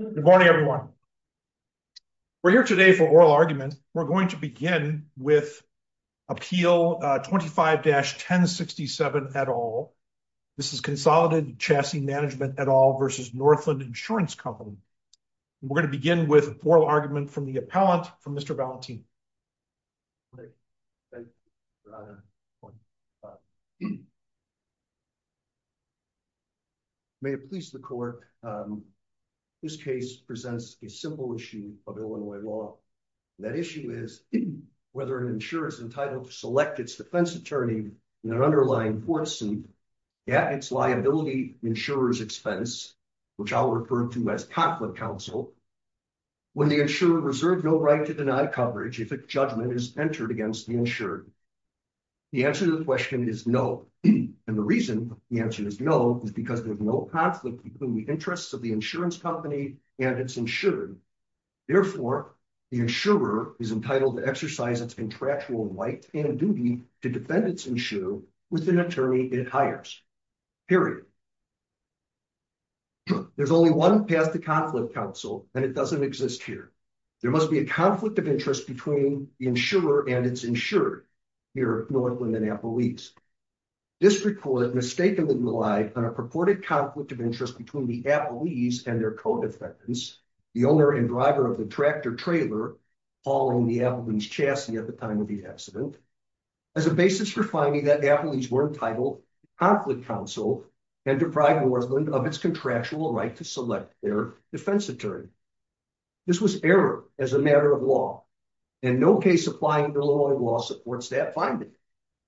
Good morning everyone. We're here today for oral argument. We're going to begin with Appeal 25-1067 et al. This is Consolidated Chassis Management et al. versus Northland Insurance Company. We're going to begin with oral argument from the appellant, from Mr. Valentin. May it please the court, this case presents a simple issue of Illinois law. That issue is whether an insurer is entitled to select its defense attorney in an underlying court suit at its liability insurer's expense, which I'll refer to as conflict counsel, when the insurer reserved no right to deny coverage if a judgment is entered against the insured. The answer to the question is no, and the reason the answer is no is because there's no conflict between the interests of the insurance company and its insured. Therefore, the insurer is entitled to exercise its contractual right and duty to defend its issue with an attorney it hires, period. There's only one path to conflict counsel, and it doesn't exist here. There must be a conflict of interest between the insurer and its insured here at Northland and Appalachia. This report mistakenly relied on a purported conflict of interest between the Appalachians and their co-defendants, the owner and driver of the tractor-trailer hauling the Appalachian chassis at the time of the accident, as a basis for finding that Appalachians weren't entitled to conflict counsel and deprive Northland of its contractual right to select their defense attorney. This was error as a matter of law, and no case applying the law in law supports that finding.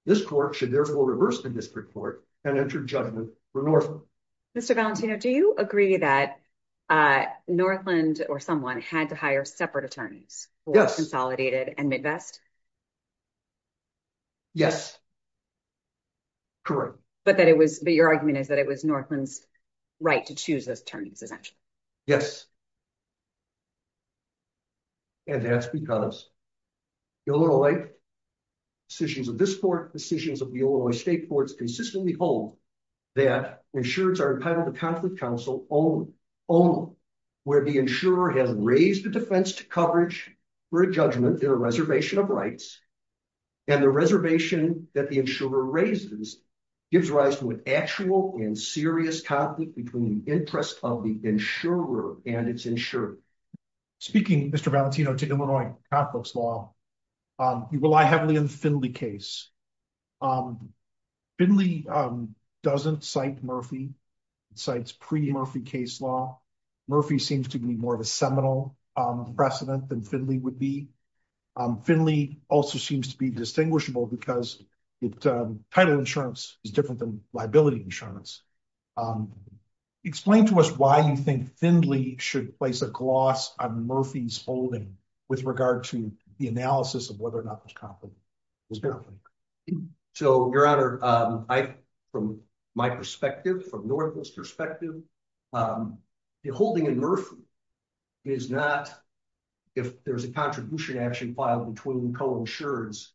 This court should therefore reverse the district court and enter judgment for Northland. Mr. Valentino, do you agree that Northland or someone had to hire separate attorneys for Consolidated and Midwest? Yes, correct. But your argument is that it was Northland's right to choose those attorneys, essentially. Yes, and that's because the Illinois decisions of this court, decisions of the Illinois state courts, consistently hold that insureds are entitled to conflict counsel only where the insurer has raised the defense coverage for a judgment in a reservation of rights. And the reservation that the insurer raises gives rise to an actual and serious conflict between the interest of the insurer and its insured. Speaking, Mr. Valentino, to Illinois Catholics law, you rely heavily on the Finley case. Finley doesn't cite Murphy, it cites pre-Murphy case law. Murphy seems to be more seminal precedent than Finley would be. Finley also seems to be distinguishable because title insurance is different than liability insurance. Explain to us why you think Finley should place a gloss on Murphy's holding with regard to the analysis of whether or not it was conflict. It was conflict. So, your honor, from my perspective, from Northwest's perspective, the holding in Murphy is not, if there's a contribution action filed between co-insureds,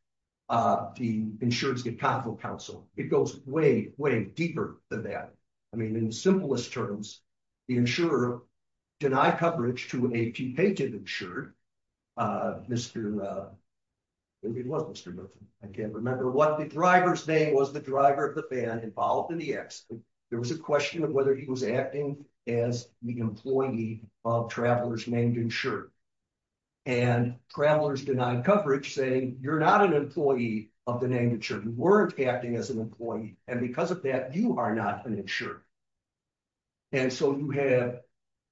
the insureds get conflict counsel. It goes way, way deeper than that. I mean, in the simplest terms, the insurer denied coverage to a T-painted insured. I can't remember what the driver's name was, the driver of the van involved in the accident. There was a question of whether he was acting as the employee of travelers named insured. And travelers denied coverage saying, you're not an employee of the name insured. You weren't acting as an employee. And because of that, you are not an insured. And so, you have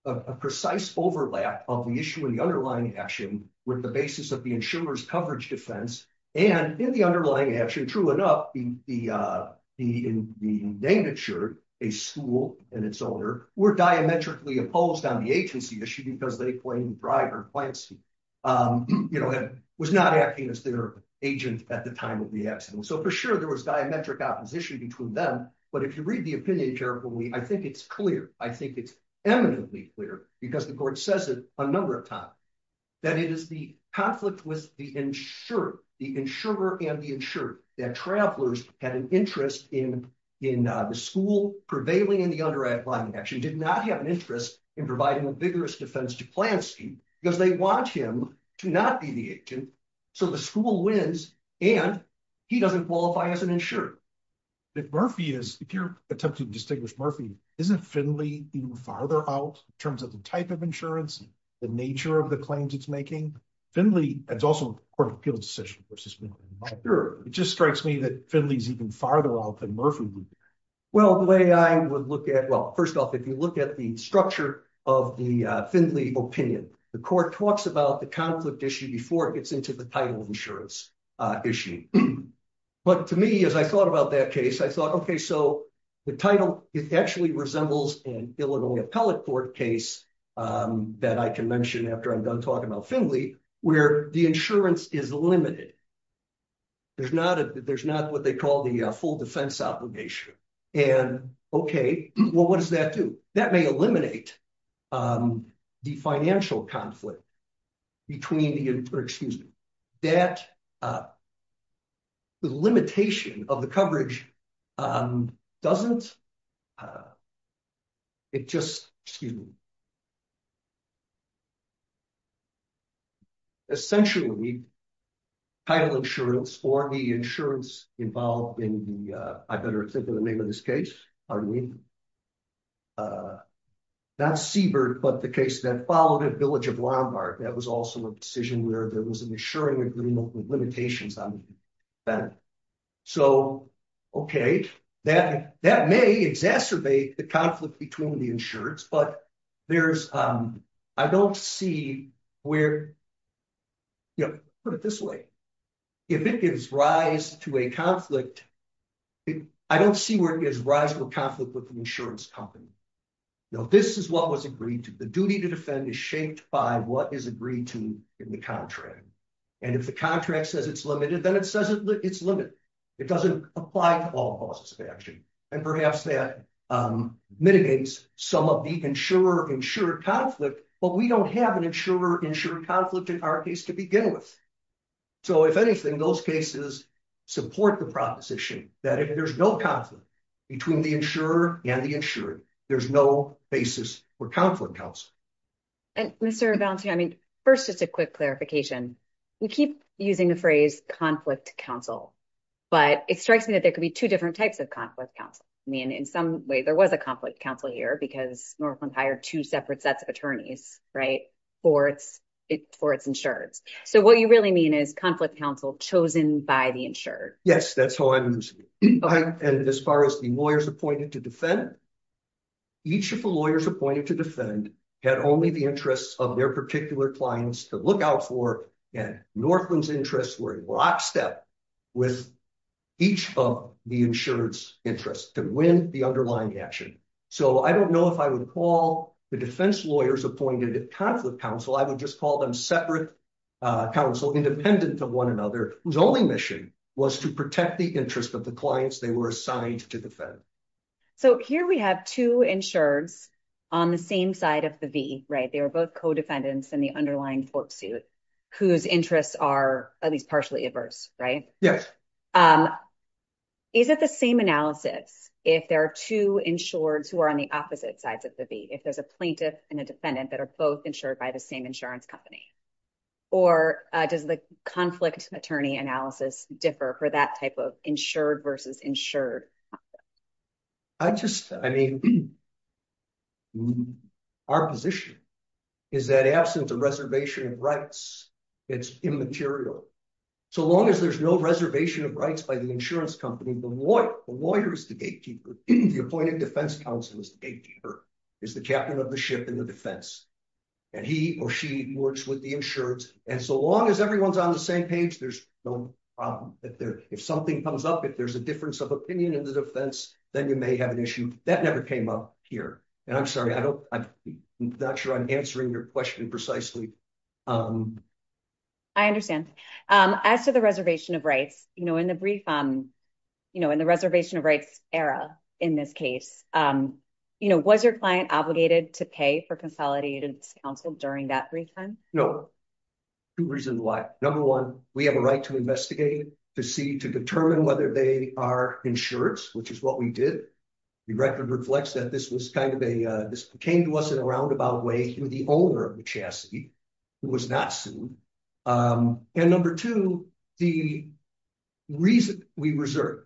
a precise overlap of the issue in the underlying action with the basis of the insurer's coverage defense. And in the underlying action, true enough, the name insured, a school and its owner were diametrically opposed on the agency issue because they claimed the driver was not acting as their agent at the time of the accident. So, for sure, there was diametric opposition between them. But if you read the opinion carefully, I think it's clear. I think it's eminently clear, because the court says it a number of times, that it is the conflict with the insurer, the insurer and the insured, that travelers had an interest in the school prevailing in the underlying action, did not have an interest in providing a vigorous defense to Plansky, because they want him to not be the agent. So, the school wins, and he doesn't qualify as an insured. If Murphy is, if you're attempting to distinguish Murphy, isn't Finley even farther out in terms of the type of insurance, the nature of the claims it's making? Finley, it's also Court of Appeal's decision. It just strikes me that Finley's even farther out than Murphy. Well, the way I would look at, well, first off, if you look at the structure of the Finley opinion, the court talks about the conflict issue before it gets into the title of insurance issue. But to me, as I thought about that case, I thought, okay, so the title, it actually resembles an Illinois Appellate Court case that I can mention after I'm done talking about Finley, where the insurance is limited. There's not a, there's not what they call the full defense obligation. And okay, well, what does that do? That may eliminate the financial conflict between the, excuse me, that the limitation of the coverage doesn't, it just, excuse me, essentially, title insurance or the insurance involved in the, I better think of the name of this case. Not Siebert, but the case that followed at Village of Lombard. That was also a decision where there was an insuring agreement with limitations on that. So, okay, that may exacerbate the conflict between the insureds, but there's, I don't see where, you know, put it this way. If it gives rise to a conflict, I don't see where it gives rise to a conflict with the insurance company. No, this is what was agreed to. The duty to defend is shaped by what is agreed to in the contract. And if the contract says it's limited, then it says it's limited. It doesn't apply to all causes of action. And perhaps that mitigates some of the insurer-insured conflict, but we don't have an insurer-insured conflict in our case to begin with. So, if anything, those cases support the proposition that if there's no conflict between the insurer and the insured, there's no basis for conflict counsel. And Mr. Valencia, I mean, first, just a quick clarification. We keep using the phrase conflict counsel, but it strikes me that there could be two different types of conflict counsel. I mean, in some way, there was a conflict counsel here because Northland hired two separate sets of attorneys, right, for its insureds. So, what you really mean is conflict counsel chosen by the insured. Yes, that's how I understand it. And as far as the lawyers appointed to defend, each of the lawyers appointed to defend had only the interests of their particular clients to look out for, and Northland's interests were in rock step with each of the insured's interests to win the underlying action. So, I don't know if I would call the defense lawyers appointed conflict counsel. I would just call them separate counsel independent of one another, whose only mission was to protect the interests of the clients they were assigned to defend. So, here we have two insureds on the same side of the V, right? They were both co-defendants in the underlying court suit whose interests are at least partially adverse, right? Yes. Is it the same analysis if there are two insureds who are on the opposite sides of the V, if there's a plaintiff and a defendant that are both insured by the same insurance company? Or does the conflict attorney analysis differ for that type of insured versus insured? I just, I mean, our position is that absence of reservation of rights, it's immaterial. So long as there's no reservation of rights by the insurance company, the lawyer is the gatekeeper, the appointed defense counsel is the gatekeeper, is the captain of the ship in the defense. And he or she works with the insureds. And so long as everyone's on the same page, there's no problem. If something comes up, if there's a difference of opinion in the defense, then you may have an issue. That never came up here. And I'm sorry, I'm not sure I'm answering your question precisely. I understand. As to the reservation of rights, you know, in the brief, you know, in the reservation of rights era, in this case, you know, was your client obligated to pay for consolidated counsel during that brief time? No. Two reasons why. Number one, we have a right to investigate, to see, to determine whether they are insured, which is what we did. The record reflects that this was kind of a, this came to us in a roundabout way, through the owner of the chassis. It was not sued. And number two, the reason we reserve,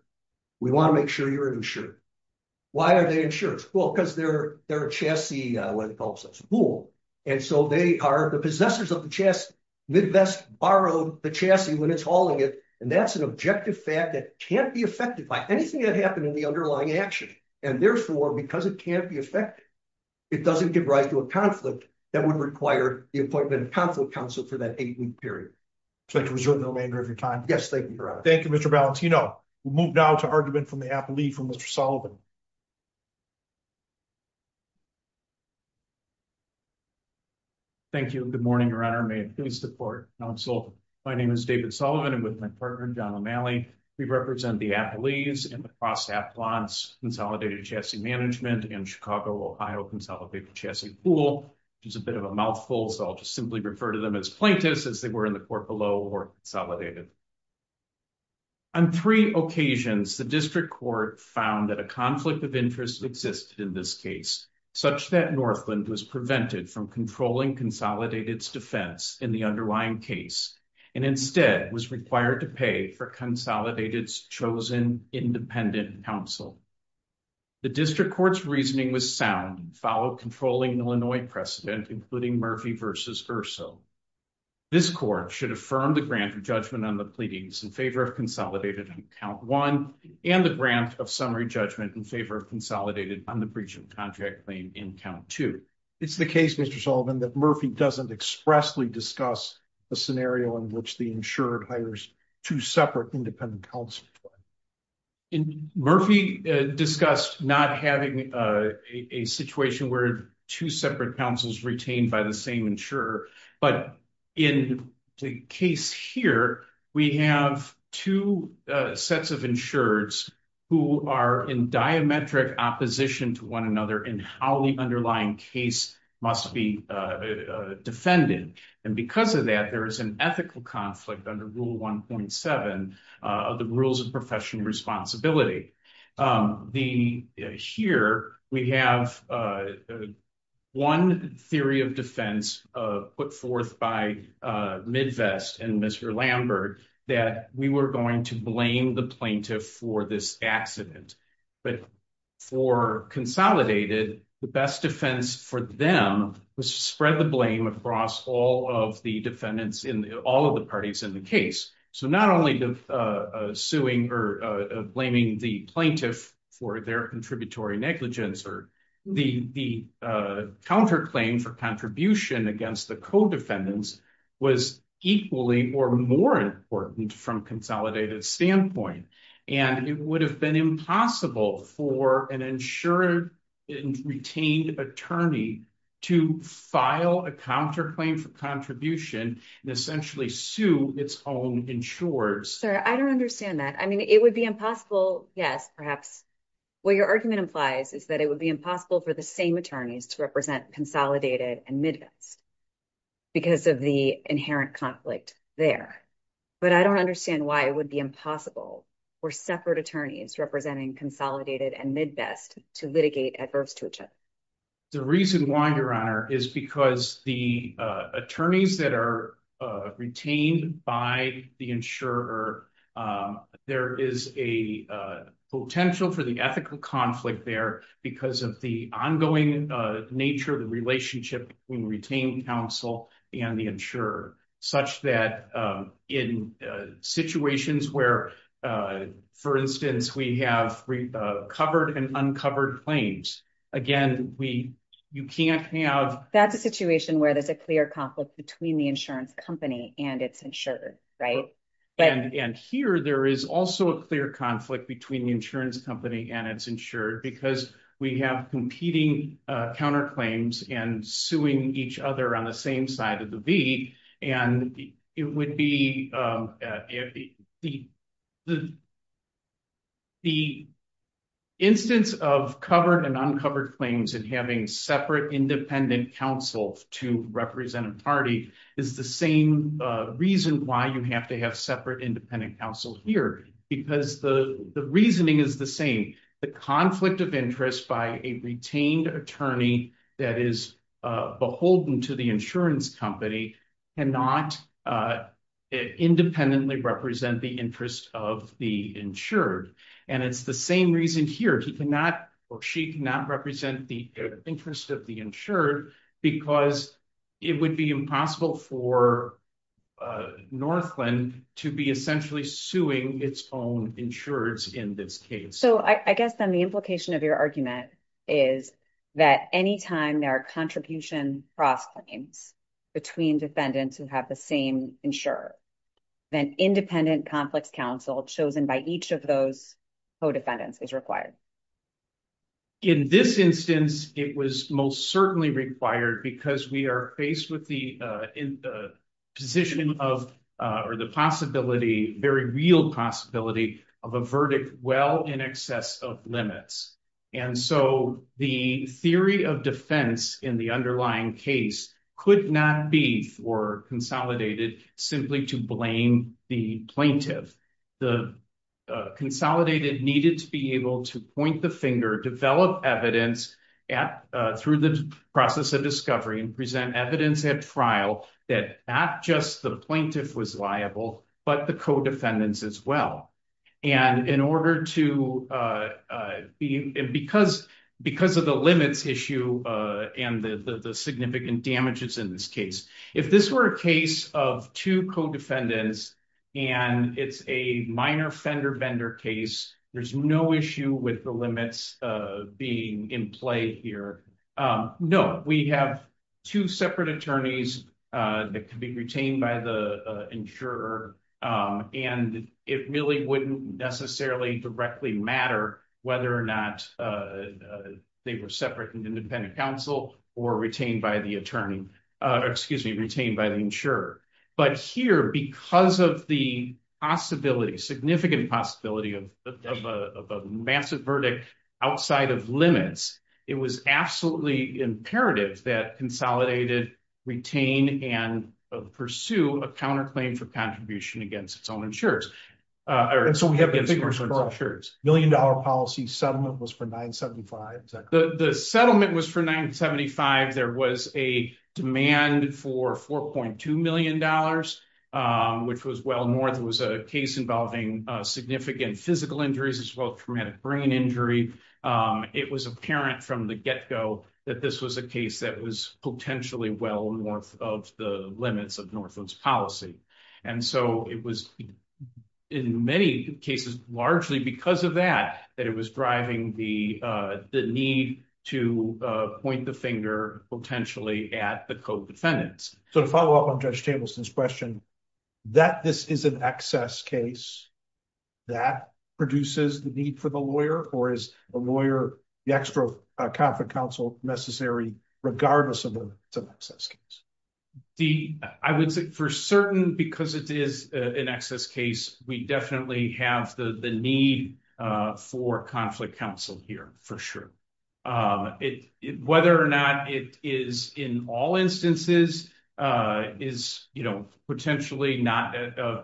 we want to make sure you're insured. Why are they insured? Well, because they're, they're a chassis, what do they call themselves? A pool. And so they are the possessors of the chassis. Midwest borrowed the chassis when it's hauling it. And that's an objective fact that can't be affected by anything that happened in the underlying action. And therefore, because it can't be affected, it doesn't give rise to a conflict that would require the appointment of conflict counsel for that eight week period. So to reserve the remainder of your time. Yes. Thank you, Your Honor. Thank you, Mr. Balentino. We'll move now to argument from the appellee from Mr. Sullivan. Thank you. Good morning, Your Honor. May it please the court. My name is David Sullivan. I'm with my partner, John O'Malley. We represent the and the Cross Appelants Consolidated Chassis Management and Chicago, Ohio Consolidated Chassis Pool, which is a bit of a mouthful. So I'll just simply refer to them as plaintiffs as they were in the court below or consolidated. On three occasions, the district court found that a conflict of interest existed in this case, such that Northland was prevented from controlling Consolidated's defense in the underlying case, and instead was required to pay for Consolidated's independent counsel. The district court's reasoning was sound and followed controlling Illinois precedent, including Murphy v. Urso. This court should affirm the grant of judgment on the pleadings in favor of Consolidated on count one and the grant of summary judgment in favor of Consolidated on the breach of contract claim in count two. It's the case, Mr. Sullivan, that Murphy doesn't expressly discuss a scenario in which the insured hires two separate independent counsels. Murphy discussed not having a situation where two separate counsels retained by the same insurer. But in the case here, we have two sets of insureds who are in diametric opposition to one another in how the underlying case must be defended. And because of that, there is an ethical conflict under rule 1.7 of the rules of professional responsibility. Here, we have one theory of defense put forth by Midwest and Mr. Lambert, that we were going to blame the plaintiff for this accident. But for Consolidated, the best defense for them was to spread the blame across all of the defendants in all of the parties in the case. So not only the suing or blaming the plaintiff for their contributory negligence, or the counterclaim for contribution against the co-defendants was equally or more important from Consolidated standpoint. And it would have been impossible for an insured and retained attorney to file a counterclaim for contribution and essentially sue its own insurers. Sorry, I don't understand that. I mean, it would be impossible. Yes, perhaps. What your argument implies is that it would be impossible for the same attorneys to represent Consolidated and Midwest because of the inherent conflict there. But I don't understand why it would be impossible for separate attorneys representing Consolidated and Midwest to litigate adverse to each other. The reason why, Your Honor, is because the attorneys that are retained by the insurer, there is a potential for the ethical conflict there because of the nature of the relationship between retained counsel and the insurer, such that in situations where, for instance, we have covered and uncovered claims, again, you can't have... That's a situation where there's a clear conflict between the insurance company and its insurer, right? And here, there is also a clear conflict between the insurance company and its insurer because we have competing counterclaims and suing each other on the same side of the V. And it would be... The instance of covered and uncovered claims and having separate independent counsel to represent a party is the same reason why you have to have separate independent counsel here because the reasoning is the same. The conflict of interest by a retained attorney that is beholden to the insurance company cannot independently represent the interest of the insured. And it's the same reason here. He cannot or she cannot represent the interest of the insured because it would be impossible for Northland to be essentially suing its own insurers in this case. So I guess then the implication of your argument is that anytime there are contribution cross-claims between defendants who have the same insurer, then independent complex counsel chosen by each of those co-defendants is required. In this instance, it was most certainly required because we are faced with the position of or the possibility, very real possibility, of a verdict well in excess of limits. And so the theory of defense in the underlying case could not be consolidated simply to blame the plaintiff. The consolidated needed to be able to point the finger, develop evidence through the process of discovery and present evidence at trial that not just the plaintiff was liable, but the co-defendants as well. And in order to be, because of the limits issue and the significant damages in this case, if this were a case of two co-defendants and it's a minor fender bender case, there's no issue with the limits being in play here. No, we have two separate attorneys that can be retained by the insurer. And it really wouldn't necessarily directly matter whether or not they were separate and independent counsel or retained by the attorney, excuse me, retained by the insurer. But here, because of the possibility, significant possibility of a massive verdict outside of limits, it was absolutely imperative that consolidated, retain, and pursue a counterclaim for contribution against its own insurers. And so we have the figures for insurers. Million dollar policy settlement was for 975. The settlement was for 975. There was a demand for $4.2 million, which was well north. It was a case involving significant physical injuries as well as traumatic brain injury. It was apparent from the get-go that this was a case that was potentially well north of the limits of Northland's policy. And so it was in many cases, largely because of that, that it was driving the need to point the finger potentially at the co-defendants. So to follow up on Judge Tableson's question, that this is an excess case, that produces the need for the lawyer, or is a lawyer, the extra conflict counsel necessary regardless of whether it's an excess case? The, I would say, for certain, because it is an excess case, we definitely have the need for conflict counsel here, for sure. Whether or not it is in all instances, is, you know, potentially not,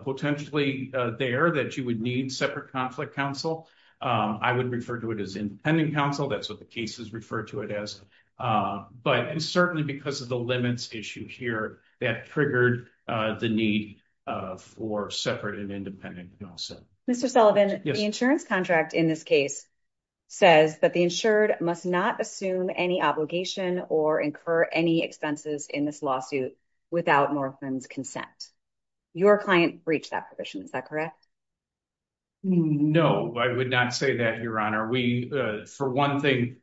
potentially there that you would need separate conflict counsel. I would refer to it as independent counsel. That's what the cases refer to it as. But certainly because of the limits issue here, that triggered the need for separate and independent counsel. Mr. Sullivan, the insurance contract in this case says that the insured must not assume any obligation or incur any expenses in this lawsuit without Northland's consent. Your client breached that provision, is that correct? No, I would not say that, Your Honor. We, for one thing,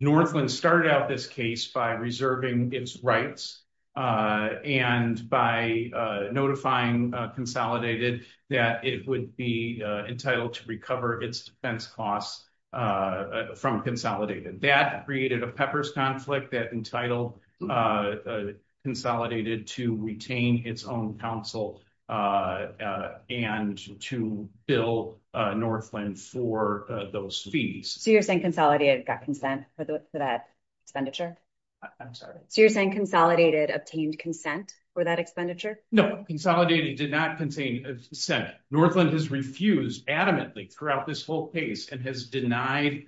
Northland started out this case by reserving its rights, and by notifying Consolidated that it would be entitled to recover its defense costs from Consolidated. That created a peppers conflict that entitled Consolidated to retain its own and to bill Northland for those fees. So you're saying Consolidated got consent for that expenditure? I'm sorry. So you're saying Consolidated obtained consent for that expenditure? No, Consolidated did not contain consent. Northland has refused adamantly throughout this whole case and has denied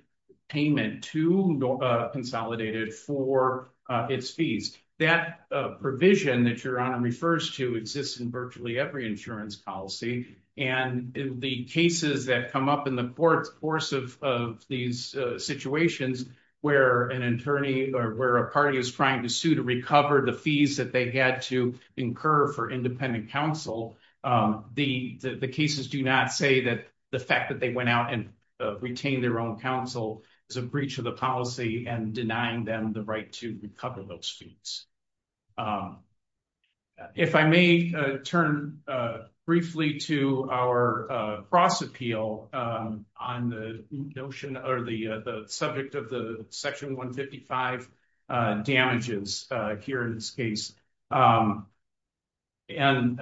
payment to Consolidated for its fees. That provision that Your Honor refers to exists in virtually every insurance policy, and the cases that come up in the course of these situations where an attorney or where a party is trying to sue to recover the fees that they had to incur for independent counsel, the cases do not say that the fact that they went out and retained their own counsel is a breach of the policy and denying them the right to recover those fees. If I may turn briefly to our cross appeal on the notion or the subject of the Section 155 damages here in this case. And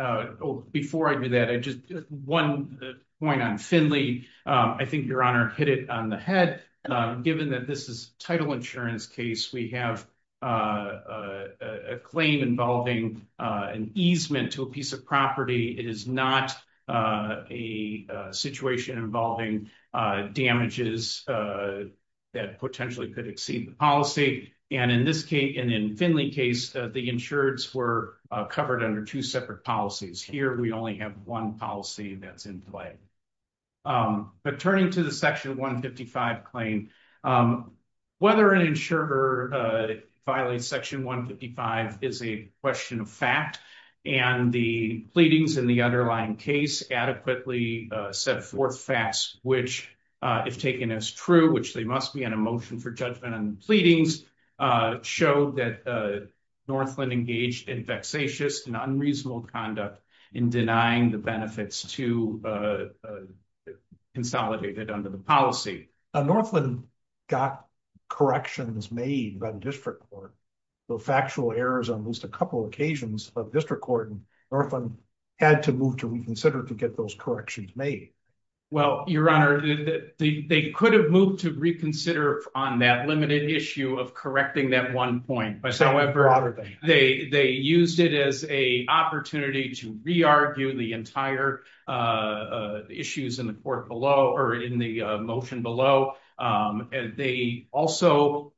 before I do that, I just one point on Finley. I think Your Honor hit it on the head. Given that this is a title insurance case, we have a claim involving an easement to a piece of property. It is not a situation involving damages that potentially could exceed the policy. And in Finley case, the insureds were covered under two separate policies. Here we only have one policy that's in play. But turning to the Section 155 claim, whether an insurer violates Section 155 is a question of fact. And the pleadings in the underlying case adequately set forth facts which, if taken as true, which they must be on a motion for judgment and pleadings, show that Northland engaged in and unreasonable conduct in denying the benefits to consolidate it under the policy. Northland got corrections made by the district court. The factual errors on at least a couple occasions of district court in Northland had to move to reconsider to get those corrections made. Well, Your Honor, they could have moved to reconsider on that limited issue of correcting that one point. However, they used it as an opportunity to re-argue the entire issues in the motion below. They also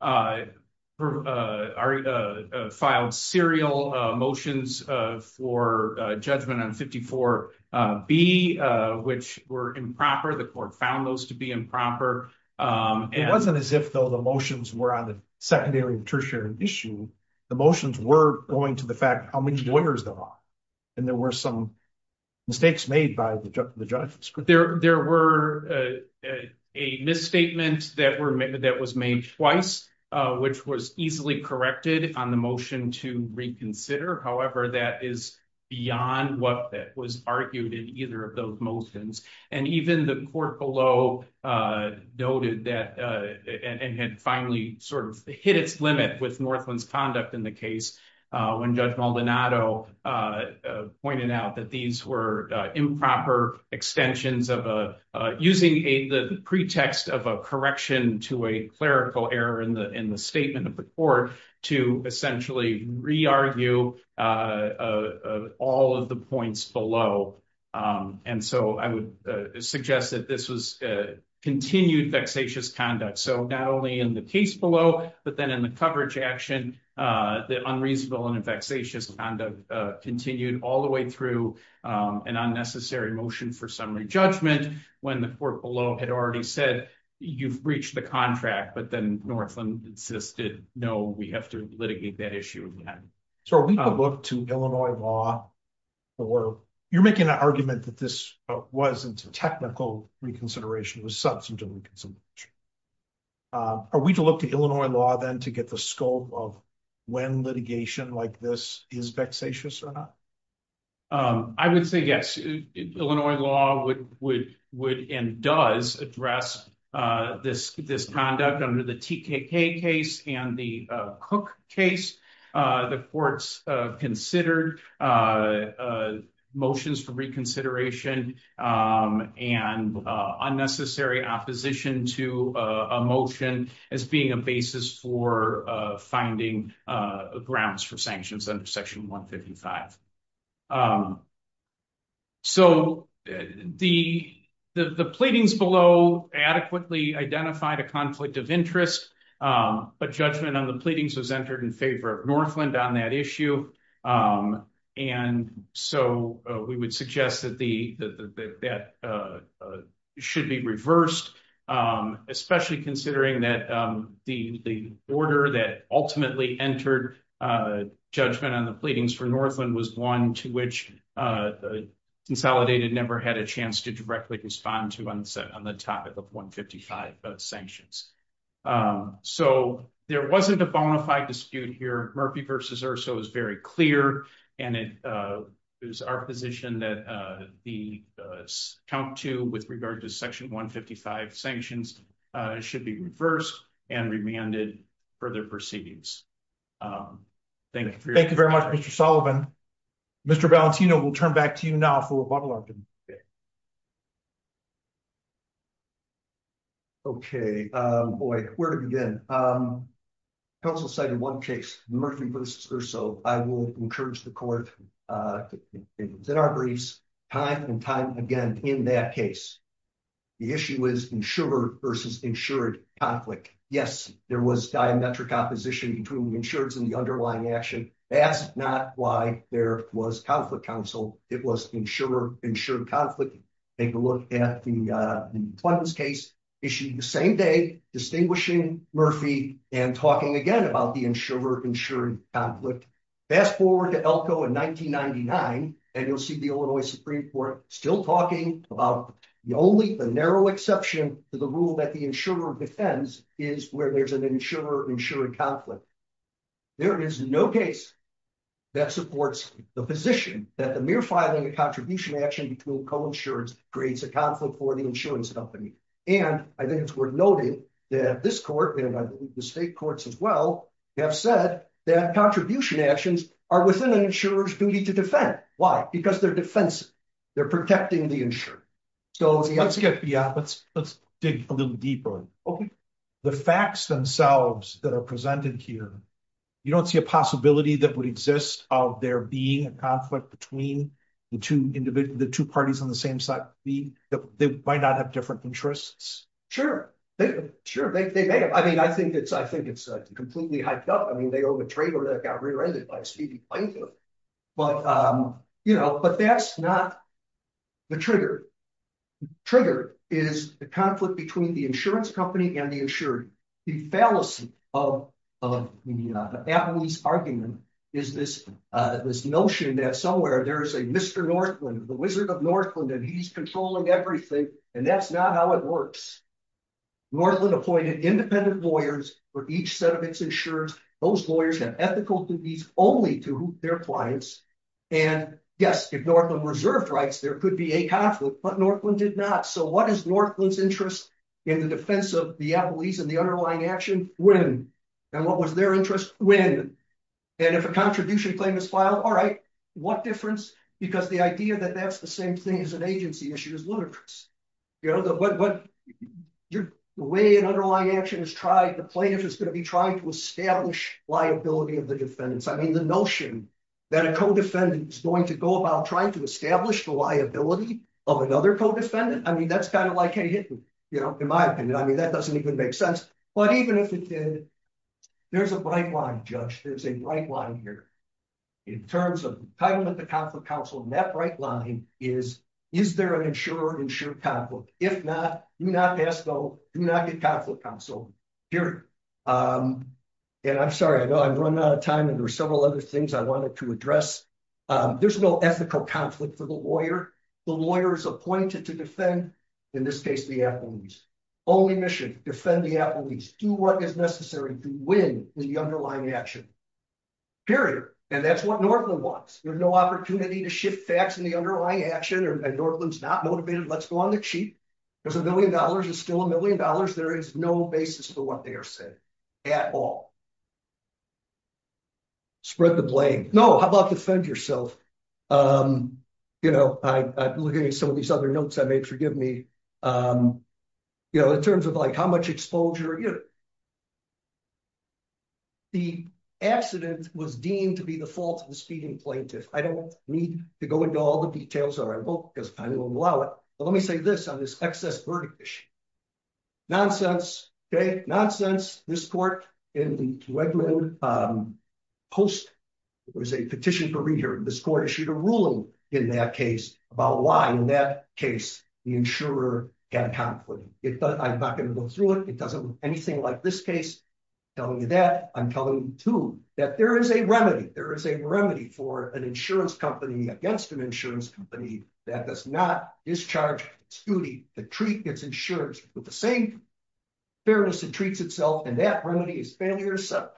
filed serial motions for judgment on 54B, which were improper. The court found those to be improper. It wasn't as if, though, the motions were on the secondary and tertiary issue. The motions were going to the fact how many lawyers there are. And there were some mistakes made by the judge. There were a misstatement that was made twice, which was easily corrected on the motion to reconsider. However, that is beyond what was argued in either of those motions. Even the court below noted that and had finally sort of hit its limit with Northland's conduct in the case when Judge Maldonado pointed out that these were improper extensions of using the pretext of a correction to a clerical error in the statement of the court to essentially re-argue all of the points below. And so, I would suggest that this was continued vexatious conduct. So, not only in the case below, but then in the coverage action, the unreasonable and vexatious conduct continued all the way through an unnecessary motion for summary judgment when the court below had already said you've breached the contract, but then Northland insisted, no, we have to litigate that issue again. So, are we to look to Illinois law, or you're making an argument that this wasn't technical reconsideration, it was substantive reconsideration. Are we to look to Illinois law then to get the scope of when litigation like this is vexatious or not? I would say yes. Illinois law would and does address this conduct under the TKK case and the Cook case. The courts considered motions for reconsideration and unnecessary opposition to a motion as being a basis for finding grounds for sanctions under section 155. So, the pleadings below adequately identified a conflict of interest, but judgment on the pleadings was entered in favor of Northland on that issue. And so, we would suggest that that should be reversed, especially considering that the order that ultimately entered judgment on the pleadings for Northland was one to which the consolidated never had a chance to directly respond to on the topic of 155 sanctions. So, there wasn't a bona fide dispute here. Murphy v. Urso is very clear, and it is our position that the count two with regard to section 155 sanctions should be reversed and remanded further proceedings. Thank you. Thank you very much, Mr. Sullivan. Mr. Valentino, we'll turn back to you now for rebuttal argument. Okay. Boy, where to begin? Council cited one case, Murphy v. Urso. I will encourage the court to present our briefs time and time again in that case. The issue is insured versus insured conflict. Yes, there was diametric opposition between the insureds and the underlying action. That's not why there was conflict counsel. It was insured conflict. Take a look at the Clinton's case issued the same day distinguishing Murphy and talking again about the insured conflict. Fast forward to Elko in 1999, and you'll see the Illinois Supreme Court still talking about the only, the narrow exception to the rule that the insurer defends is where there's an insurer-insured conflict. There is no case that supports the position that the mere filing of contribution action between co-insureds creates a conflict for the insurance company. And I think we're noting that this court, and I believe the state courts as well, have said that contribution actions are within an insurer's duty to defend. Why? Because they're defensive. They're protecting the insurer. Let's dig a little deeper. The facts themselves that are presented here, you don't see a possibility that would exist of there being a conflict between the two parties on the same side. They might not have different interests. Sure. Sure. They may have. I mean, I think it's completely hyped up. I mean, they owe the trader that got rear-ended by a speedy plaintiff. But that's not the trigger. Trigger is the conflict between the insurance company and the insured. The fallacy of the Appellee's argument is this notion that somewhere there is a Mr. Northland, the Wizard of Northland, and he's controlling everything. And that's not how it works. Northland appointed independent lawyers for each set of its insurers. Those lawyers have ethical duties only to their clients. And yes, if Northland reserved rights, there could be a conflict. But Northland did not. So what is Northland's interest in the defense of the Appellees and the underlying action? Win. And what was their interest? Win. And if a contribution claim is filed, all right, what difference? Because the idea that that's the same thing as an agency issue is ludicrous. The way an underlying action is tried, the plaintiff is going to be trying to establish liability of the defendants. I mean, the notion that a co-defendant is going to go about trying to establish the liability of another co-defendant, I mean, that's kind of like, you know, in my opinion, I mean, that doesn't even make sense. But even if it did, there's a bright line, Judge. There's a bright line here. In terms of talking with the Conflict Counsel, and that bright line is, is there an insured-insured conflict? If not, do not ask, though. Do not get Conflict Counsel. Period. And I'm sorry, I know I've run out of time, and there are several other things I wanted to address. There's no ethical conflict for the Applebee's. Only mission, defend the Applebee's. Do what is necessary to win the underlying action. Period. And that's what Northland wants. There's no opportunity to shift facts in the underlying action, and Northland's not motivated. Let's go on the cheap. There's a million dollars. It's still a million dollars. There is no basis for what they are saying at all. Spread the blame. No, how about defend yourself? You know, I'm looking at some of these other notes I made, forgive me. You know, in terms of like how much exposure, you know. The accident was deemed to be the fault of the speeding plaintiff. I don't need to go into all the details of my book because I won't allow it, but let me say this on this excess verdict issue. Nonsense, okay? Nonsense. This court in the Wegman Post, it was a petition for re-hearing. This court issued a ruling in that case about why in that case the insurer had a conflict. I'm not going to go through it. It doesn't look anything like this case. I'm telling you that. I'm telling you, too, that there is a remedy. There is a remedy for an insurance company against an insurance company that does not discharge its duty to treat its insurers with the same fairness it treats itself, and that remedy is failure to sell.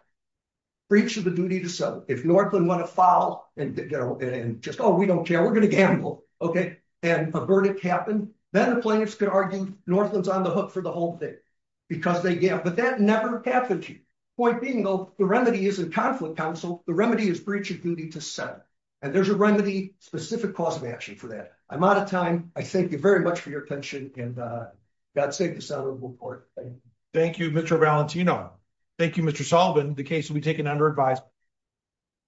If Northland went afoul and just, oh, we don't care, we're going to gamble, okay, and a verdict happened, then the plaintiffs could argue Northland's on the hook for the whole thing because they, yeah, but that never happened to you. Point being, though, the remedy isn't conflict counsel. The remedy is breach of duty to sell, and there's a remedy-specific cause of action for that. I'm out of time. I thank you very much for your attention, and God save the Senate and the